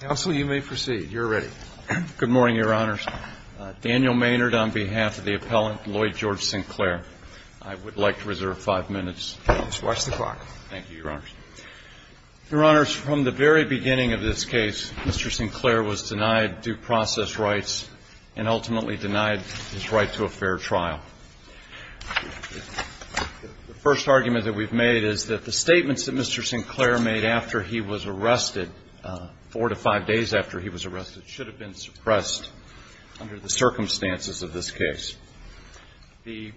Counsel, you may proceed. You're ready. Good morning, Your Honors. Daniel Maynard on behalf of the appellant Lloyd George Sinclair. I would like to reserve five minutes. Just watch the clock. Thank you, Your Honors. Your Honors, from the very beginning of this case, Mr. Sinclair was denied due process rights and ultimately denied his right to a fair trial. The first argument that we've made is that the statements that Mr. Sinclair made after he was arrested, four to five days after he was arrested, should have been suppressed under the circumstances of this case. We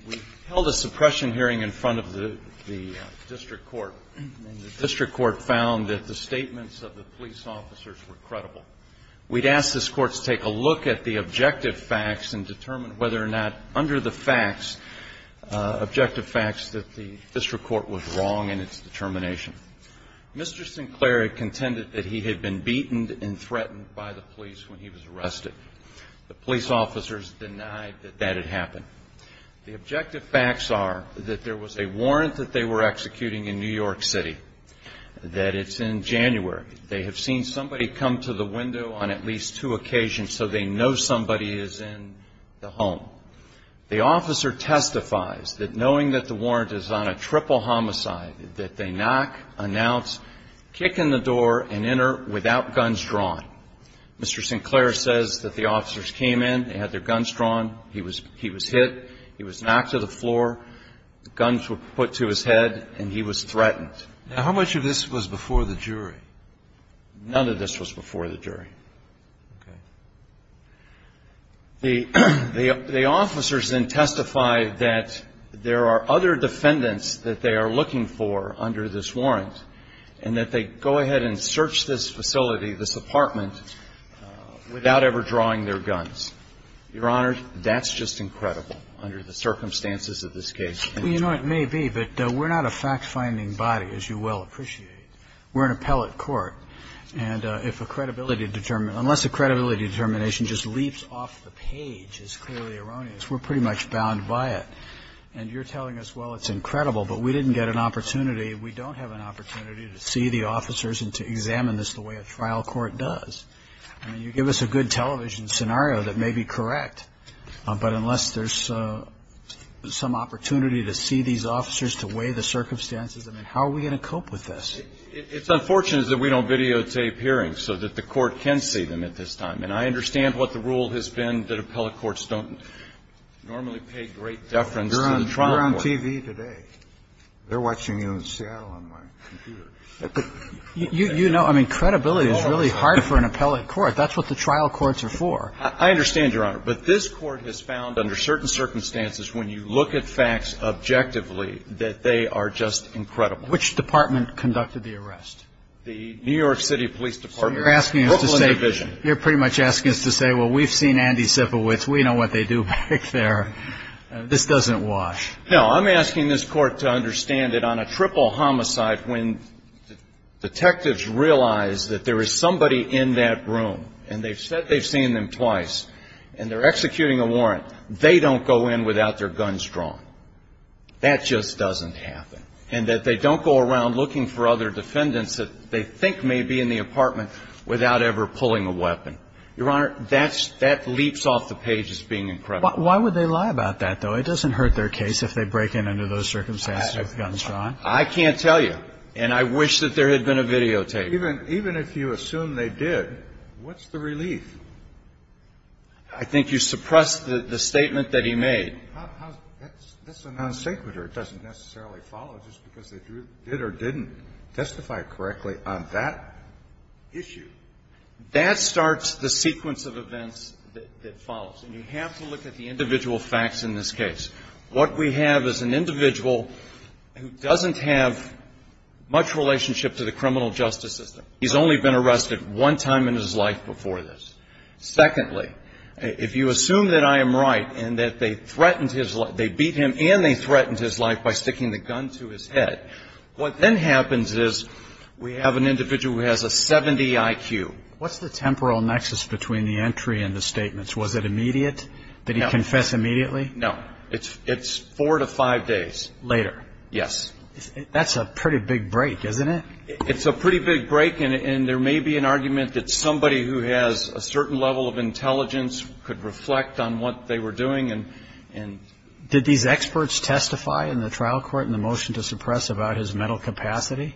held a suppression hearing in front of the district court, and the district court found that the statements of the police officers were credible. We'd asked this court to take a look at the objective facts and determine whether or not under the facts, objective facts, that the district court was wrong in its determination. Mr. Sinclair contended that he had been beaten and threatened by the police when he was arrested. The police officers denied that that had happened. The objective facts are that there was a warrant that they were executing in New York City, that it's in January. They have seen somebody come to the window on at least two occasions, so they know somebody is in the home. The officer testifies that knowing that the warrant is on a triple homicide, that they knock, announce, kick in the door, and enter without guns drawn. Mr. Sinclair says that the officers came in, they had their guns drawn, he was hit, he was knocked to the floor, the guns were put to his head, and he was threatened. Now, how much of this was before the jury? None of this was before the jury. Okay. The officers then testify that there are other defendants that they are looking for under this warrant, and that they go ahead and search this facility, this apartment, without ever drawing their guns. Your Honor, that's just incredible under the circumstances of this case. Well, you know, it may be, but we're not a fact-finding body, as you well appreciate. We're an appellate court, and if a credibility, unless a credibility determination just leaps off the page is clearly erroneous, we're pretty much bound by it. And you're telling us, well, it's incredible, but we didn't get an opportunity, we don't have an opportunity to see the officers and to examine this the way a trial court does. I mean, you give us a good television scenario that may be correct, but unless there's some opportunity to see these officers, to weigh the circumstances, I mean, how are we going to cope with this? It's unfortunate that we don't videotape hearings so that the court can see them at this time. And I understand what the rule has been that appellate courts don't normally pay great deference to the trial court. You're on TV today. They're watching you in Seattle on my computer. But you know, I mean, credibility is really hard for an appellate court. That's what the trial courts are for. I understand, Your Honor. But this Court has found under certain circumstances, when you look at facts objectively that they are just incredible. Which department conducted the arrest? The New York City Police Department. So you're asking us to say, you're pretty much asking us to say, well, we've seen Andy Sipowich, we know what they do back there. This doesn't wash. No, I'm asking this court to understand that on a triple homicide, when detectives realize that there is somebody in that room, and they've said they've seen them twice, and they're executing a warrant, they don't go in without their guns drawn. That just doesn't happen. And that they don't go around looking for other defendants that they think may be in the apartment without ever pulling a weapon. Your Honor, that leaps off the page as being incredible. Why would they lie about that, though? It doesn't hurt their case if they break in under those circumstances with guns drawn. I can't tell you. And I wish that there had been a videotape. Even if you assume they did, what's the relief? I think you suppress the statement that he made. That's a non-sequitur. It doesn't necessarily follow just because they did or didn't testify correctly on that issue. That starts the sequence of events that follows. And you have to look at the individual facts in this case. What we have is an individual who doesn't have much relationship to the criminal justice system. He's only been arrested one time in his life before this. Secondly, if you assume that I am right and that they threatened his life, they beat him and they threatened his life by sticking the gun to his head, what then happens is we have an individual who has a 70 IQ. What's the temporal nexus between the entry and the statements? Was it immediate? Did he confess immediately? No. It's four to five days later. Yes. That's a pretty big break, isn't it? It's a pretty big break. And there may be an argument that somebody who has a certain level of intelligence could reflect on what they were doing and. Did these experts testify in the trial court in the motion to suppress about his mental capacity?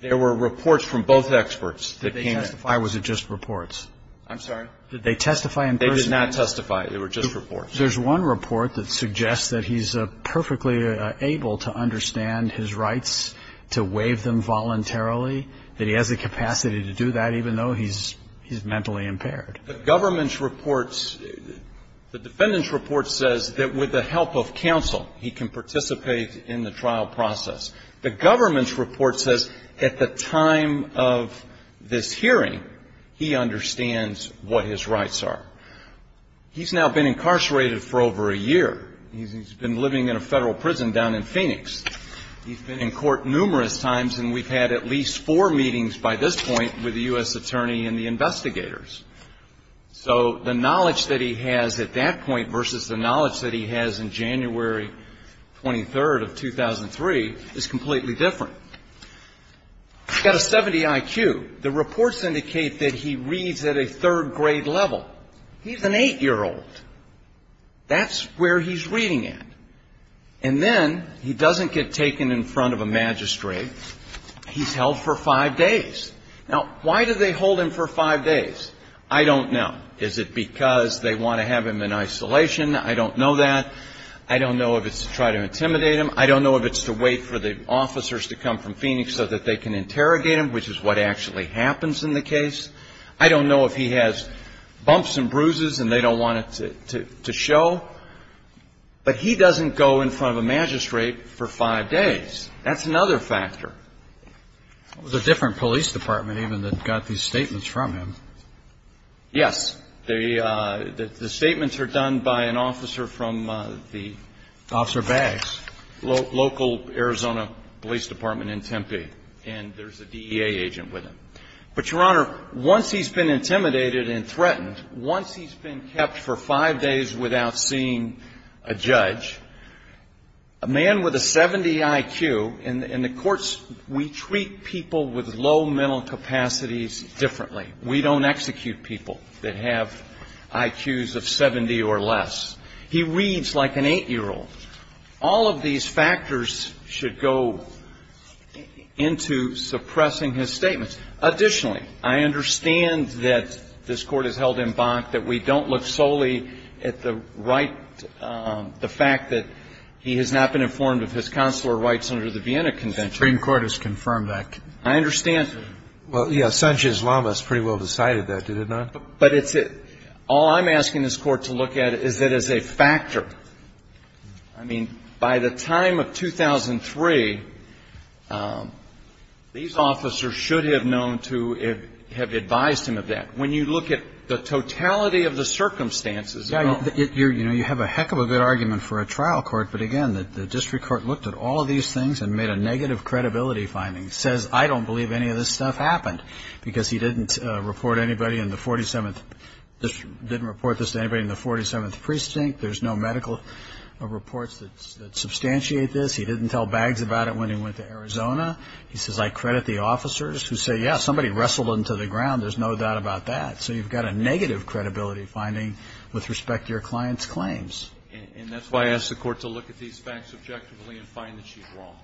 There were reports from both experts. Did they testify or was it just reports? I'm sorry? Did they testify in person? They did not testify. They were just reports. There's one report that suggests that he's perfectly able to understand his rights, to waive them voluntarily, that he has the capacity to do that even though he's mentally impaired. The government's reports, the defendant's report says that with the help of counsel, he can participate in the trial process. The government's report says at the time of this hearing, he understands what his rights are. He's now been incarcerated for over a year. He's been living in a federal prison down in Phoenix. He's been in court numerous times and we've had at least four meetings by this point with the U.S. attorney and the investigators. So the knowledge that he has at that point versus the knowledge that he has in January 23rd of 2003 is completely different. He's got a 70 IQ. The reports indicate that he reads at a third grade level. He's an eight-year-old. That's where he's reading at. And then he doesn't get taken in front of a magistrate. He's held for five days. Now, why do they hold him for five days? I don't know. Is it because they want to have him in isolation? I don't know that. I don't know if it's to try to intimidate him. I don't know if it's to wait for the officers to come from Phoenix so that they can interrogate him, which is what actually happens in the case. I don't know if he has bumps and bruises and they don't want it to show. But he doesn't go in front of a magistrate for five days. That's another factor. It was a different police department even that got these statements from him. Yes. The statements are done by an officer from the ---- Officer Baggs. Local Arizona Police Department in Tempe. And there's a DEA agent with him. But, Your Honor, once he's been intimidated and threatened, once he's been kept for five days without seeing a judge, a man with a 70 IQ, in the courts we treat people with low mental capacities differently. We don't execute people that have IQs of 70 or less. He reads like an 8-year-old. All of these factors should go into suppressing his statements. Additionally, I understand that this Court has held in Bach that we don't look solely at the right, the fact that he has not been informed of his consular rights under the Vienna Convention. The Supreme Court has confirmed that. I understand. Well, yes, Sanchez-Lamas pretty well decided that, did it not? But it's all I'm asking this Court to look at is that as a factor. I mean, by the time of 2003, these officers should have known to have advised him of that. When you look at the totality of the circumstances. Yeah, you know, you have a heck of a good argument for a trial court. But, again, the district court looked at all of these things and made a negative credibility finding. Says, I don't believe any of this stuff happened, because he didn't report anybody in the 47th district, didn't report this to anybody in the 47th precinct. There's no medical reports that substantiate this. He didn't tell Baggs about it when he went to Arizona. He says, I credit the officers, who say, yes, somebody wrestled him to the ground. There's no doubt about that. So you've got a negative credibility finding with respect to your client's claims. And that's why I ask the Court to look at these facts objectively and find that she's wrong.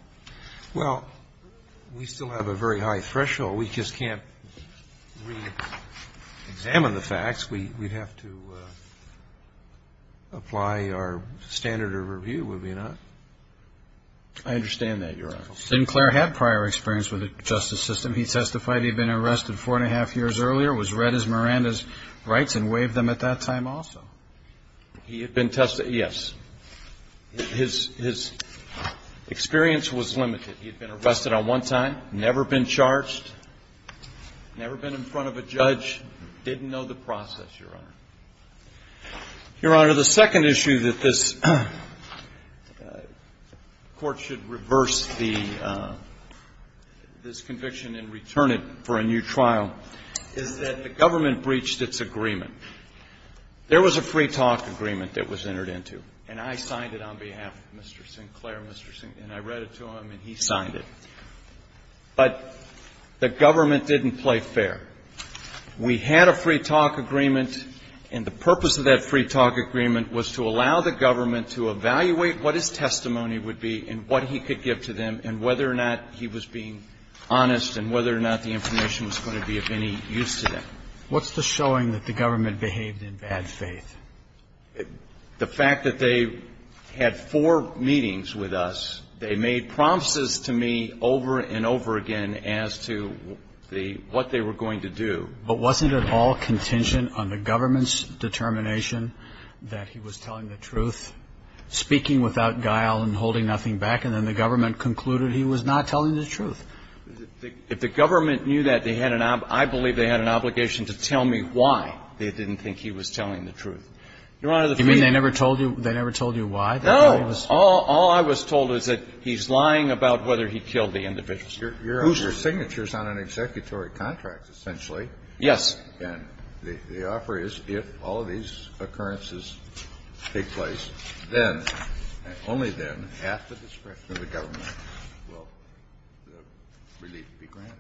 Well, we still have a very high threshold. We just can't reexamine the facts. We'd have to apply our standard of review, would we not? I understand that, Your Honor. Didn't Clare have prior experience with the justice system? He testified he'd been arrested four and a half years earlier, was read as Miranda's rights, and waived them at that time also. He had been tested, yes. His experience was limited. He had been arrested on one time, never been charged, never been in front of a judge, didn't know the process. Your Honor, the second issue that this Court should reverse this conviction and return it for a new trial is that the government breached its agreement. There was a free talk agreement that was entered into, and I signed it on behalf of Mr. Sinclair, and I read it to him, and he signed it. But the government didn't play fair. We had a free talk agreement, and the purpose of that free talk agreement was to allow the government to evaluate what his testimony would be and what he could give to them, and whether or not he was being honest and whether or not the information was going to be of any use to them. What's the showing that the government behaved in bad faith? The fact that they had four meetings with us, they made promises to me over and over again as to the what they were going to do. But wasn't it all contingent on the government's determination that he was telling the truth, speaking without guile and holding nothing back, and then the government concluded he was not telling the truth? If the government knew that, they had an ob – I believe they had an obligation to tell me why they didn't think he was telling the truth. Your Honor, the three of you. You mean they never told you – they never told you why? No. All I was told is that he's lying about whether he killed the individuals. Your signature is on an executory contract, essentially. Yes. And the offer is, if all of these occurrences take place, then, only then, at the discretion of the government, will the government decide whether or not he was telling the truth. Relief be granted.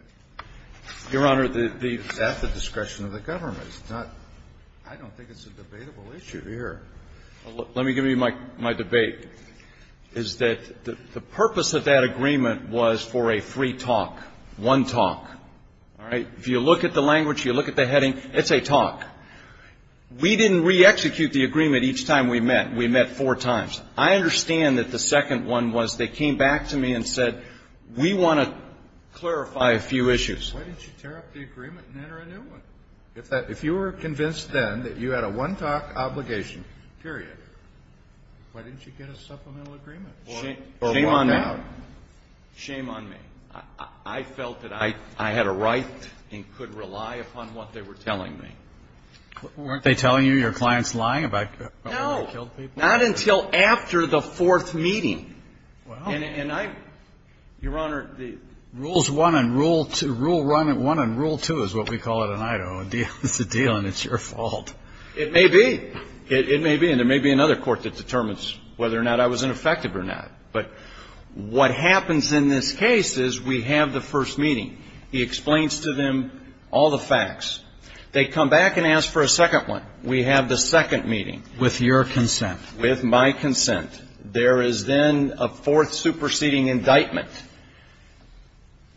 Your Honor, the – At the discretion of the government. It's not – I don't think it's a debatable issue here. Let me give you my debate, is that the purpose of that agreement was for a free talk, one talk, all right? If you look at the language, you look at the heading, it's a talk. We didn't re-execute the agreement each time we met. We met four times. I understand that the second one was they came back to me and said, we want to clarify a few issues. Why didn't you tear up the agreement and enter a new one? If that – if you were convinced then that you had a one-talk obligation, period, why didn't you get a supplemental agreement? Shame on me. Shame on me. I felt that I had a right and could rely upon what they were telling me. Weren't they telling you your client's lying about whether he killed people? Not until after the fourth meeting. And I – Your Honor, the – Rules one and rule two – rule one and rule two is what we call it in Idaho. It's a deal and it's your fault. It may be. It may be. And there may be another court that determines whether or not I was ineffective or not. But what happens in this case is we have the first meeting. He explains to them all the facts. They come back and ask for a second one. We have the second meeting. With your consent. With my consent. There is then a fourth superseding indictment.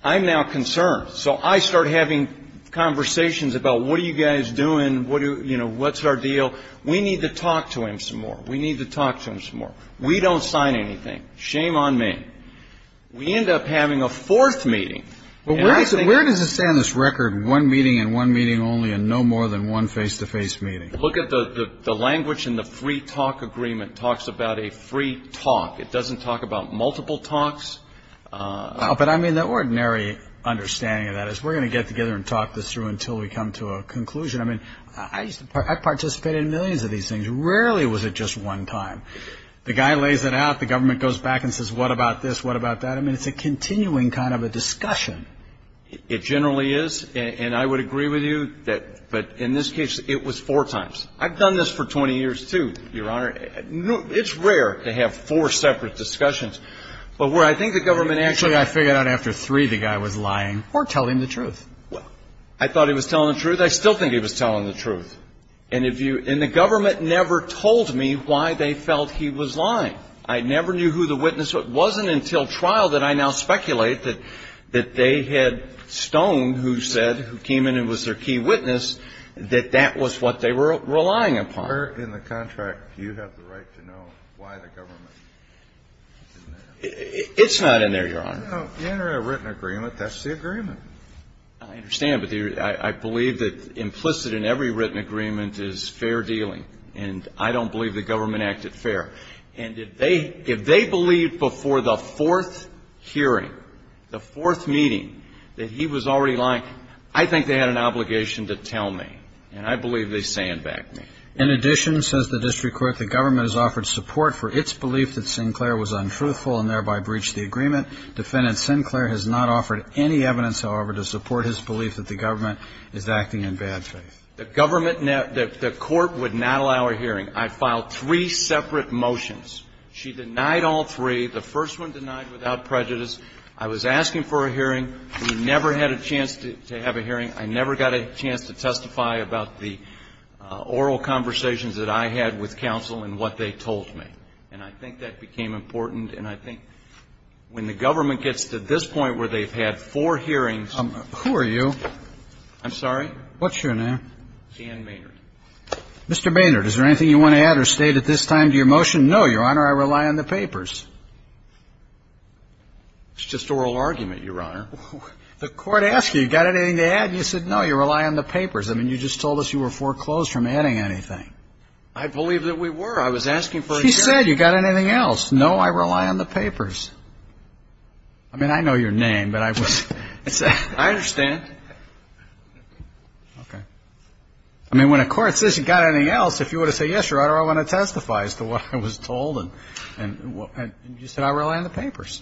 I'm now concerned. So I start having conversations about what are you guys doing? What do – you know, what's our deal? We need to talk to him some more. We need to talk to him some more. We don't sign anything. Shame on me. We end up having a fourth meeting. But where does it say on this record one meeting and one meeting only and no more than one face-to-face meeting? Look at the language in the free talk agreement. It talks about a free talk. It doesn't talk about multiple talks. But I mean, the ordinary understanding of that is we're going to get together and talk this through until we come to a conclusion. I mean, I participated in millions of these things. Rarely was it just one time. The guy lays it out. The government goes back and says, what about this? What about that? I mean, it's a continuing kind of a discussion. It generally is. And I would agree with you that – but in this case, it was four times. I've done this for 20 years, too, Your Honor. It's rare to have four separate discussions. But where I think the government actually – I figured out after three the guy was lying or telling the truth. Well, I thought he was telling the truth. I still think he was telling the truth. And if you – and the government never told me why they felt he was lying. I never knew who the witness – it wasn't until trial that I now speculate that they had Stone, who said – who came in and was their key witness, that that was what they were relying upon. Where in the contract do you have the right to know why the government did that? It's not in there, Your Honor. No, in a written agreement, that's the agreement. I understand, but I believe that implicit in every written agreement is fair dealing. And I don't believe the government acted fair. And if they – if they believed before the fourth hearing, the fourth meeting, that he was already lying, I think they had an obligation to tell me. And I believe they sandbagged me. In addition, says the district court, the government has offered support for its belief that Sinclair was untruthful and thereby breached the agreement. Defendant Sinclair has not offered any evidence, however, to support his belief that the government is acting in bad faith. The government – the court would not allow a hearing. I filed three separate motions. She denied all three. The first one denied without prejudice. I was asking for a hearing. We never had a chance to have a hearing. I never got a chance to testify about the oral conversations that I had with counsel and what they told me. And I think that became important. And I think when the government gets to this point where they've had four hearings Who are you? I'm sorry? What's your name? Dan Maynard. Mr. Maynard, is there anything you want to add or state at this time to your motion? No, Your Honor, I rely on the papers. It's just oral argument, Your Honor. The court asked you, you got anything to add? And you said no, you rely on the papers. I mean, you just told us you were foreclosed from adding anything. I believe that we were. I was asking for a hearing. She said you got anything else. No, I rely on the papers. I mean, I know your name, but I was – I understand. Okay. I mean, when a court says you got anything else, if you were to say yes, Your Honor, I want to testify as to what I was told and you said I rely on the papers.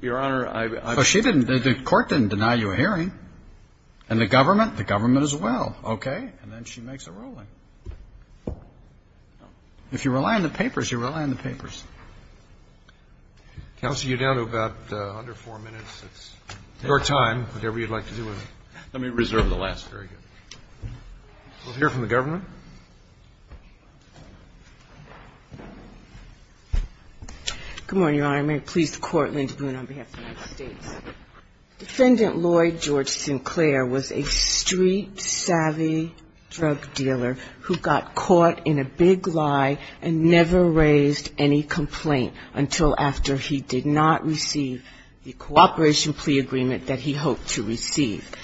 Your Honor, I – So she didn't – the court didn't deny you a hearing. And the government? The government as well. Okay. And then she makes a ruling. If you rely on the papers, you rely on the papers. Counsel, you're down to about under four minutes. It's your time, whatever you'd like to do with it. Let me reserve the last very good. We'll hear from the government. Good morning, Your Honor. May it please the Court, Linda Boone on behalf of the United States. Defendant Lloyd George Sinclair was a street savvy drug dealer who got caught in a big lie and never raised any complaint until after he did not receive the cooperation plea agreement that he hoped to receive.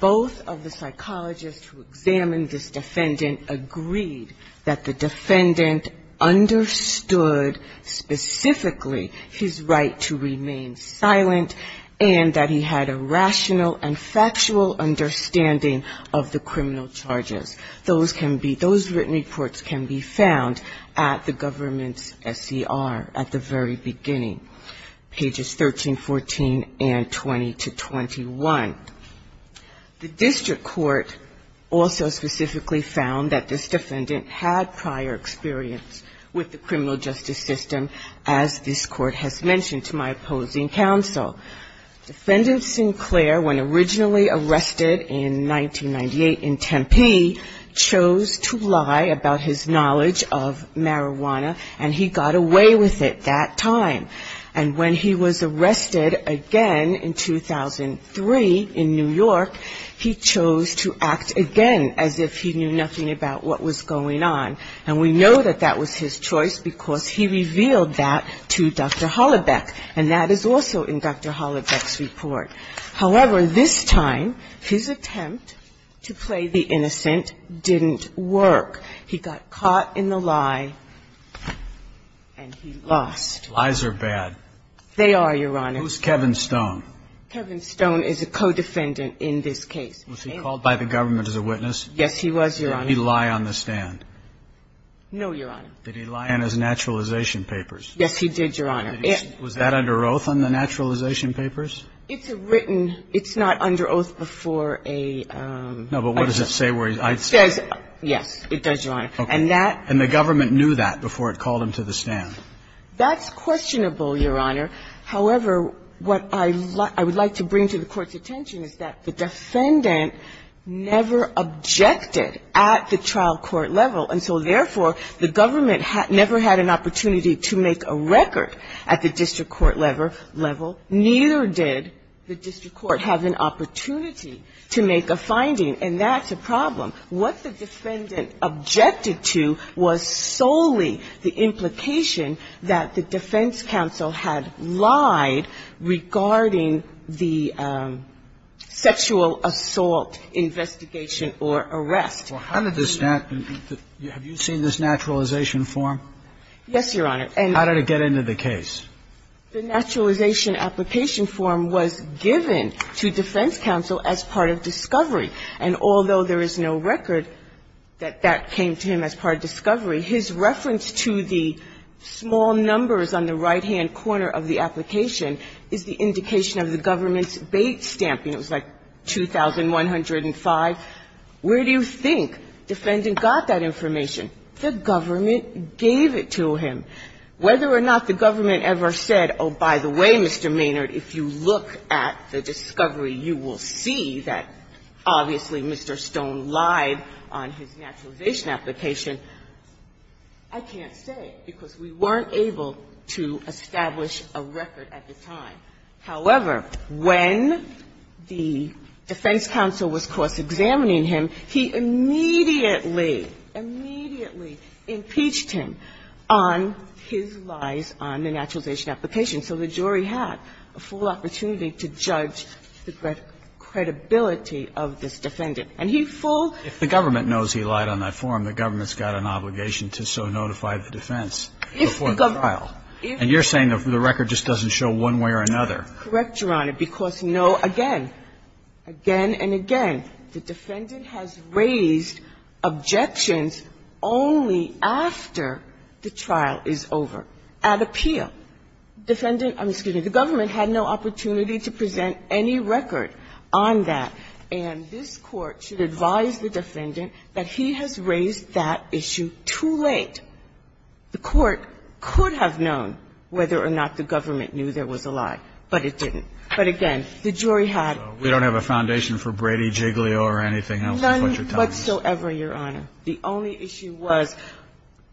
Both of the psychologists who examined this defendant agreed that the defendant understood specifically his right to remain silent and that he had a rational and factual understanding of the criminal charges. Those can be – those written reports can be found at the government's SCR at the very beginning, pages 13, 14, and 20 to 21. The district court also specifically found that this defendant had prior experience with the criminal justice system, as this court has mentioned to my opposing counsel. Defendant Sinclair, when originally arrested in 1998 in Tempe, chose to lie about his knowledge of marijuana and he got away with it that time. And when he was arrested again in 2003 in New York, he chose to act again as if he knew nothing about what was going on. And we know that that was his choice because he revealed that to Dr. Hollebeck, and that is also in Dr. Hollebeck's report. However, this time, his attempt to play the innocent didn't work. He got caught in the lie and he lost. Lies are bad. They are, Your Honor. Who's Kevin Stone? Kevin Stone is a co-defendant in this case. Was he called by the government as a witness? Yes, he was, Your Honor. Did he lie on the stand? No, Your Honor. Did he lie in his naturalization papers? Yes, he did, Your Honor. Was that under oath on the naturalization papers? It's written – it's not under oath before a – No, but what does it say where he's – It says – yes, it does, Your Honor. And that – And the government knew that before it called him to the stand? That's questionable, Your Honor. However, what I would like to bring to the Court's attention is that the defendant never objected at the trial court level. And so therefore, the government never had an opportunity to make a record at the district court level. Neither did the district court have an opportunity to make a finding. And that's a problem. What the defendant objected to was solely the implication that the defense counsel had lied regarding the sexual assault investigation or arrest. Well, how did this – have you seen this naturalization form? Yes, Your Honor. How did it get into the case? The naturalization application form was given to defense counsel as part of discovery. And although there is no record that that came to him as part of discovery, his reference to the small numbers on the right-hand corner of the application is the indication of the government's bait stamping. It was like 2,105. Where do you think defendant got that information? The government gave it to him. Whether or not the government ever said, oh, by the way, Mr. Maynard, if you look at the discovery, you will see that, obviously, Mr. Stone lied on his naturalization application. I can't say, because we weren't able to establish a record at the time. However, when the defense counsel was course-examining him, he immediately, immediately impeached him on his lies on the naturalization application. So the jury had a full opportunity to judge the credibility of this defendant. And he full ---- If the government knows he lied on that form, the government's got an obligation to so notify the defense before the trial. If the government ---- And you're saying the record just doesn't show one way or another. Correct, Your Honor, because, no, again, again and again, the defendant has raised objections only after the trial is over, at appeal. The defendant ---- excuse me. The government had no opportunity to present any record on that. And this Court should advise the defendant that he has raised that issue too late. The Court could have known whether or not the government knew there was a lie, but it didn't. But, again, the jury had ---- We don't have a foundation for Brady, Giglio, or anything else. None whatsoever, Your Honor. The only issue was,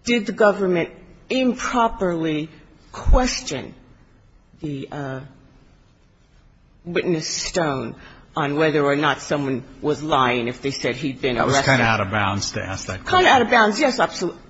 did the government improperly question the witness stone on whether or not someone was lying if they said he'd been arrested? That was kind of out of bounds to ask that question. Kind of out of bounds, yes, absolutely.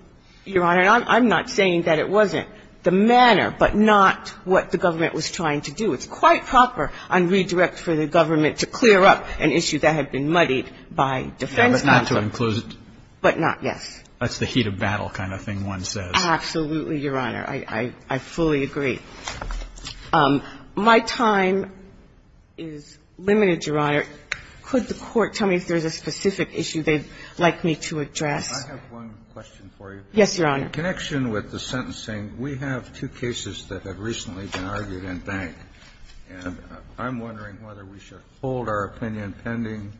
Your Honor, I'm not saying that it wasn't the manner, but not what the government was trying to do. It's quite proper on redirect for the government to clear up an issue that had been muddied by defense counsel. But not to enclose it. But not, yes. That's the heat of battle kind of thing one says. Absolutely, Your Honor. I fully agree. My time is limited, Your Honor. Could the Court tell me if there's a specific issue they'd like me to address? I have one question for you. Yes, Your Honor. In connection with the sentencing, we have two cases that have recently been argued in Bank. And I'm wondering whether we should hold our opinion pending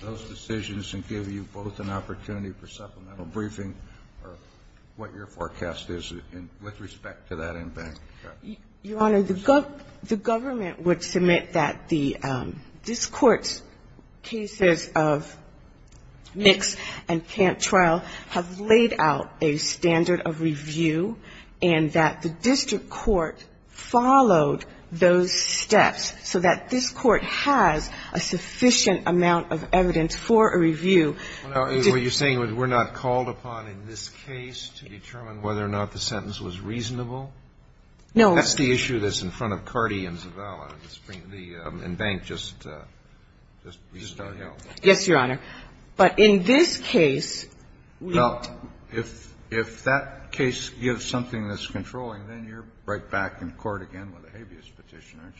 those decisions and give you both an opportunity for supplemental briefing or what your forecast is with respect to that in Bank. Your Honor, the government would submit that this Court's cases of mixed and camp trial have laid out a standard of review and that the district court followed those steps so that this Court has a sufficient amount of evidence for a review. Are you saying we're not called upon in this case to determine whether or not the sentence was reasonable? No. That's the issue that's in front of Carty and Zavala and Bank just out here. Yes, Your Honor. But in this case, we don't. Well, if that case gives something that's controlling, then you're right back in court again with a habeas petition, aren't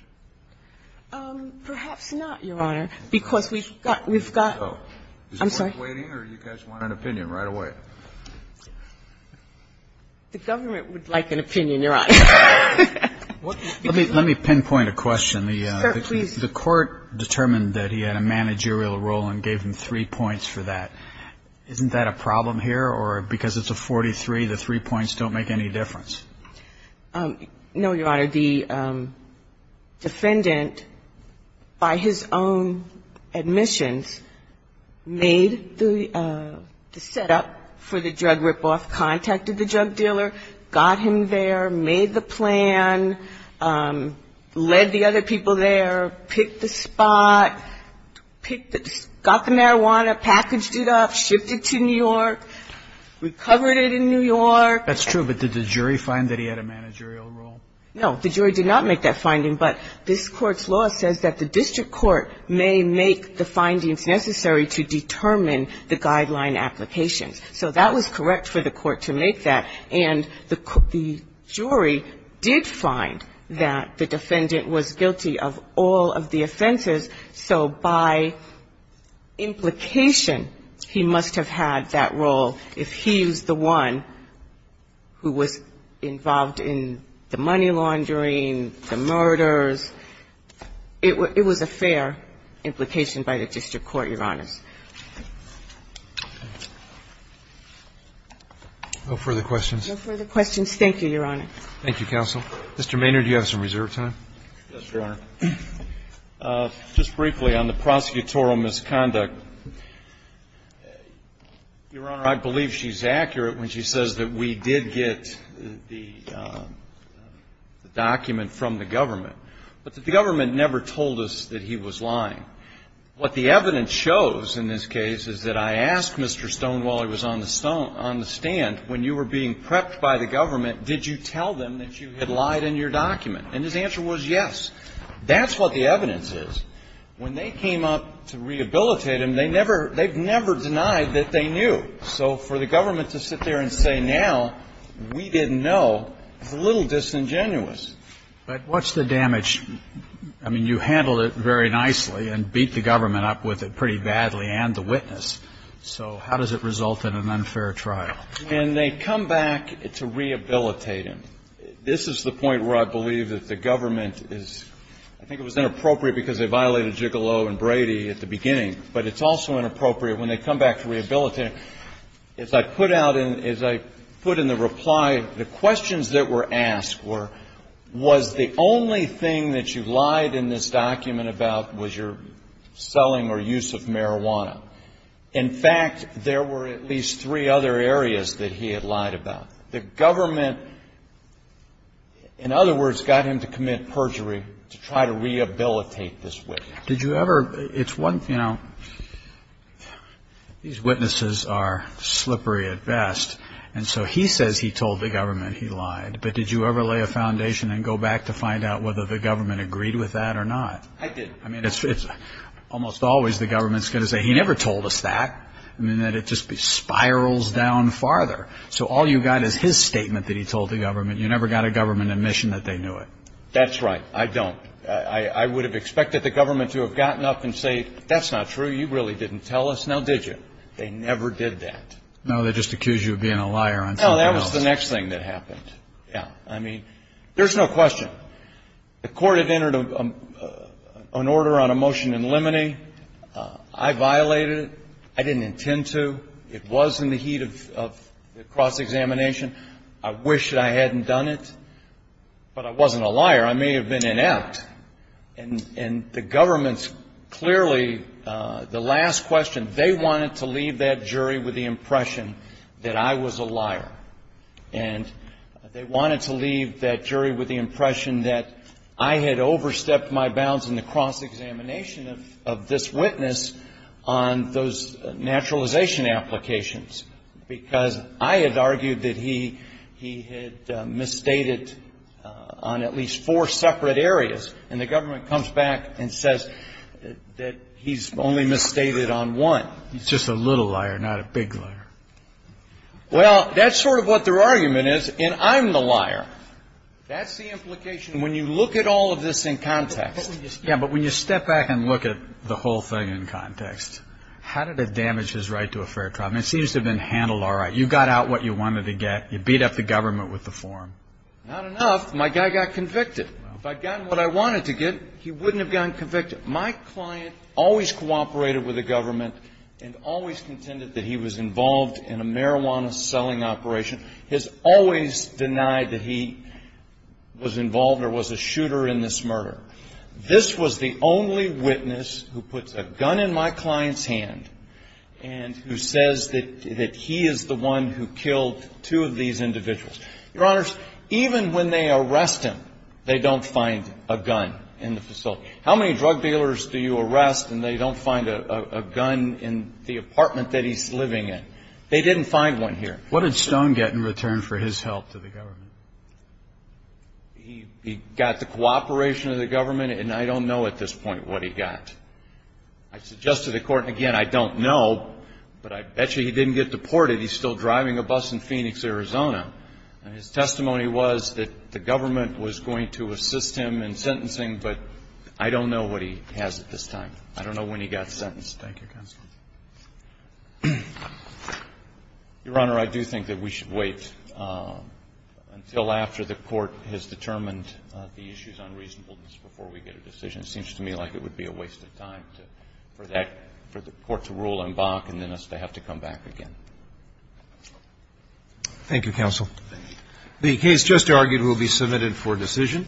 you? Perhaps not, Your Honor, because we've got to go. I'm sorry. Is the Court waiting or do you guys want an opinion right away? The government would like an opinion, Your Honor. Let me pinpoint a question. Sir, please. The Court determined that he had a managerial role and gave him three points for that. Isn't that a problem here? Or because it's a 43, the three points don't make any difference? No, Your Honor. The defendant, by his own admissions, made the setup for the drug rip-off, contacted the drug dealer, got him there, made the plan, led the other people there, picked the spot, got the marijuana, packaged it up, shipped it to New York, recovered it in New York. That's true. But did the jury find that he had a managerial role? No. The jury did not make that finding. But this Court's law says that the district court may make the findings necessary to determine the guideline applications. So that was correct for the court to make that. And the jury did find that the defendant was guilty of all of the offenses. So by implication, he must have had that role. If he was the one who was involved in the money laundering, the murders, it was a fair implication by the district court, Your Honors. No further questions? No further questions. Thank you, Your Honor. Thank you, counsel. Mr. Maynard, you have some reserved time. Yes, Your Honor. Just briefly on the prosecutorial misconduct, Your Honor, I believe she's accurate when she says that we did get the document from the government, but that the government never told us that he was lying. What the evidence shows in this case is that I asked Mr. Stone, while he was on the stand, when you were being prepped by the government, did you tell them that you had lied in your document? And his answer was yes. That's what the evidence is. When they came up to rehabilitate him, they never, they've never denied that they knew. So for the government to sit there and say now we didn't know is a little disingenuous. But what's the damage? I mean, you handled it very nicely and beat the government up with it pretty badly and the witness. So how does it result in an unfair trial? When they come back to rehabilitate him, this is the point where I believe that the government is, I think it was inappropriate because they violated Gigolo and Brady at the beginning. But it's also inappropriate when they come back to rehabilitate him. As I put out in, as I put in the reply, the questions that were asked were, was the only thing that you lied in this document about was your selling or use of marijuana? In fact, there were at least three other areas that he had lied about. The government, in other words, got him to commit perjury to try to rehabilitate this witness. Did you ever, it's one, you know, these witnesses are slippery at best. And so he says he told the government he lied. But did you ever lay a foundation and go back to find out whether the government agreed with that or not? I did. I did. I mean, it's almost always the government's going to say, he never told us that. I mean, that it just spirals down farther. So all you got is his statement that he told the government. You never got a government admission that they knew it. That's right. I don't. I would have expected the government to have gotten up and say, that's not true. You really didn't tell us. Now, did you? They never did that. No, they just accused you of being a liar on something else. No, that was the next thing that happened. Yeah. I mean, there's no question. The court had entered an order on a motion in limine. I violated it. I didn't intend to. It was in the heat of the cross-examination. I wish that I hadn't done it. But I wasn't a liar. I may have been inept. And the government's clearly, the last question, they wanted to leave that jury with the impression that I was a liar. And they wanted to leave that jury with the impression that I had overstepped my bounds in the cross-examination of this witness on those naturalization applications, because I had argued that he had misstated on at least four separate areas. And the government comes back and says that he's only misstated on one. He's just a little liar, not a big liar. Well, that's sort of what their argument is, and I'm the liar. That's the implication. When you look at all of this in context. Yeah, but when you step back and look at the whole thing in context, how did it damage his right to a fair trial? I mean, it seems to have been handled all right. You got out what you wanted to get. You beat up the government with the form. Not enough. My guy got convicted. If I'd gotten what I wanted to get, he wouldn't have gotten convicted. My client always cooperated with the government and always contended that he was involved in a marijuana-selling operation. He has always denied that he was involved or was a shooter in this murder. This was the only witness who puts a gun in my client's hand and who says that he is the one who killed two of these individuals. Your Honors, even when they arrest him, they don't find a gun in the facility. How many drug dealers do you arrest and they don't find a gun in the apartment that he's living in? They didn't find one here. What did Stone get in return for his help to the government? He got the cooperation of the government, and I don't know at this point what he got. I suggested to the Court, and again, I don't know, but I bet you he didn't get deported. He's still driving a bus in Phoenix, Arizona. His testimony was that the government was going to assist him in sentencing, but I don't know what he has at this time. I don't know when he got sentenced. Thank you, Counsel. Your Honor, I do think that we should wait until after the Court has determined the issues on reasonableness before we get a decision. It seems to me like it would be a waste of time for the Court to rule on Bach and then us to have to come back again. Thank you, Counsel. The case just argued will be submitted for decision.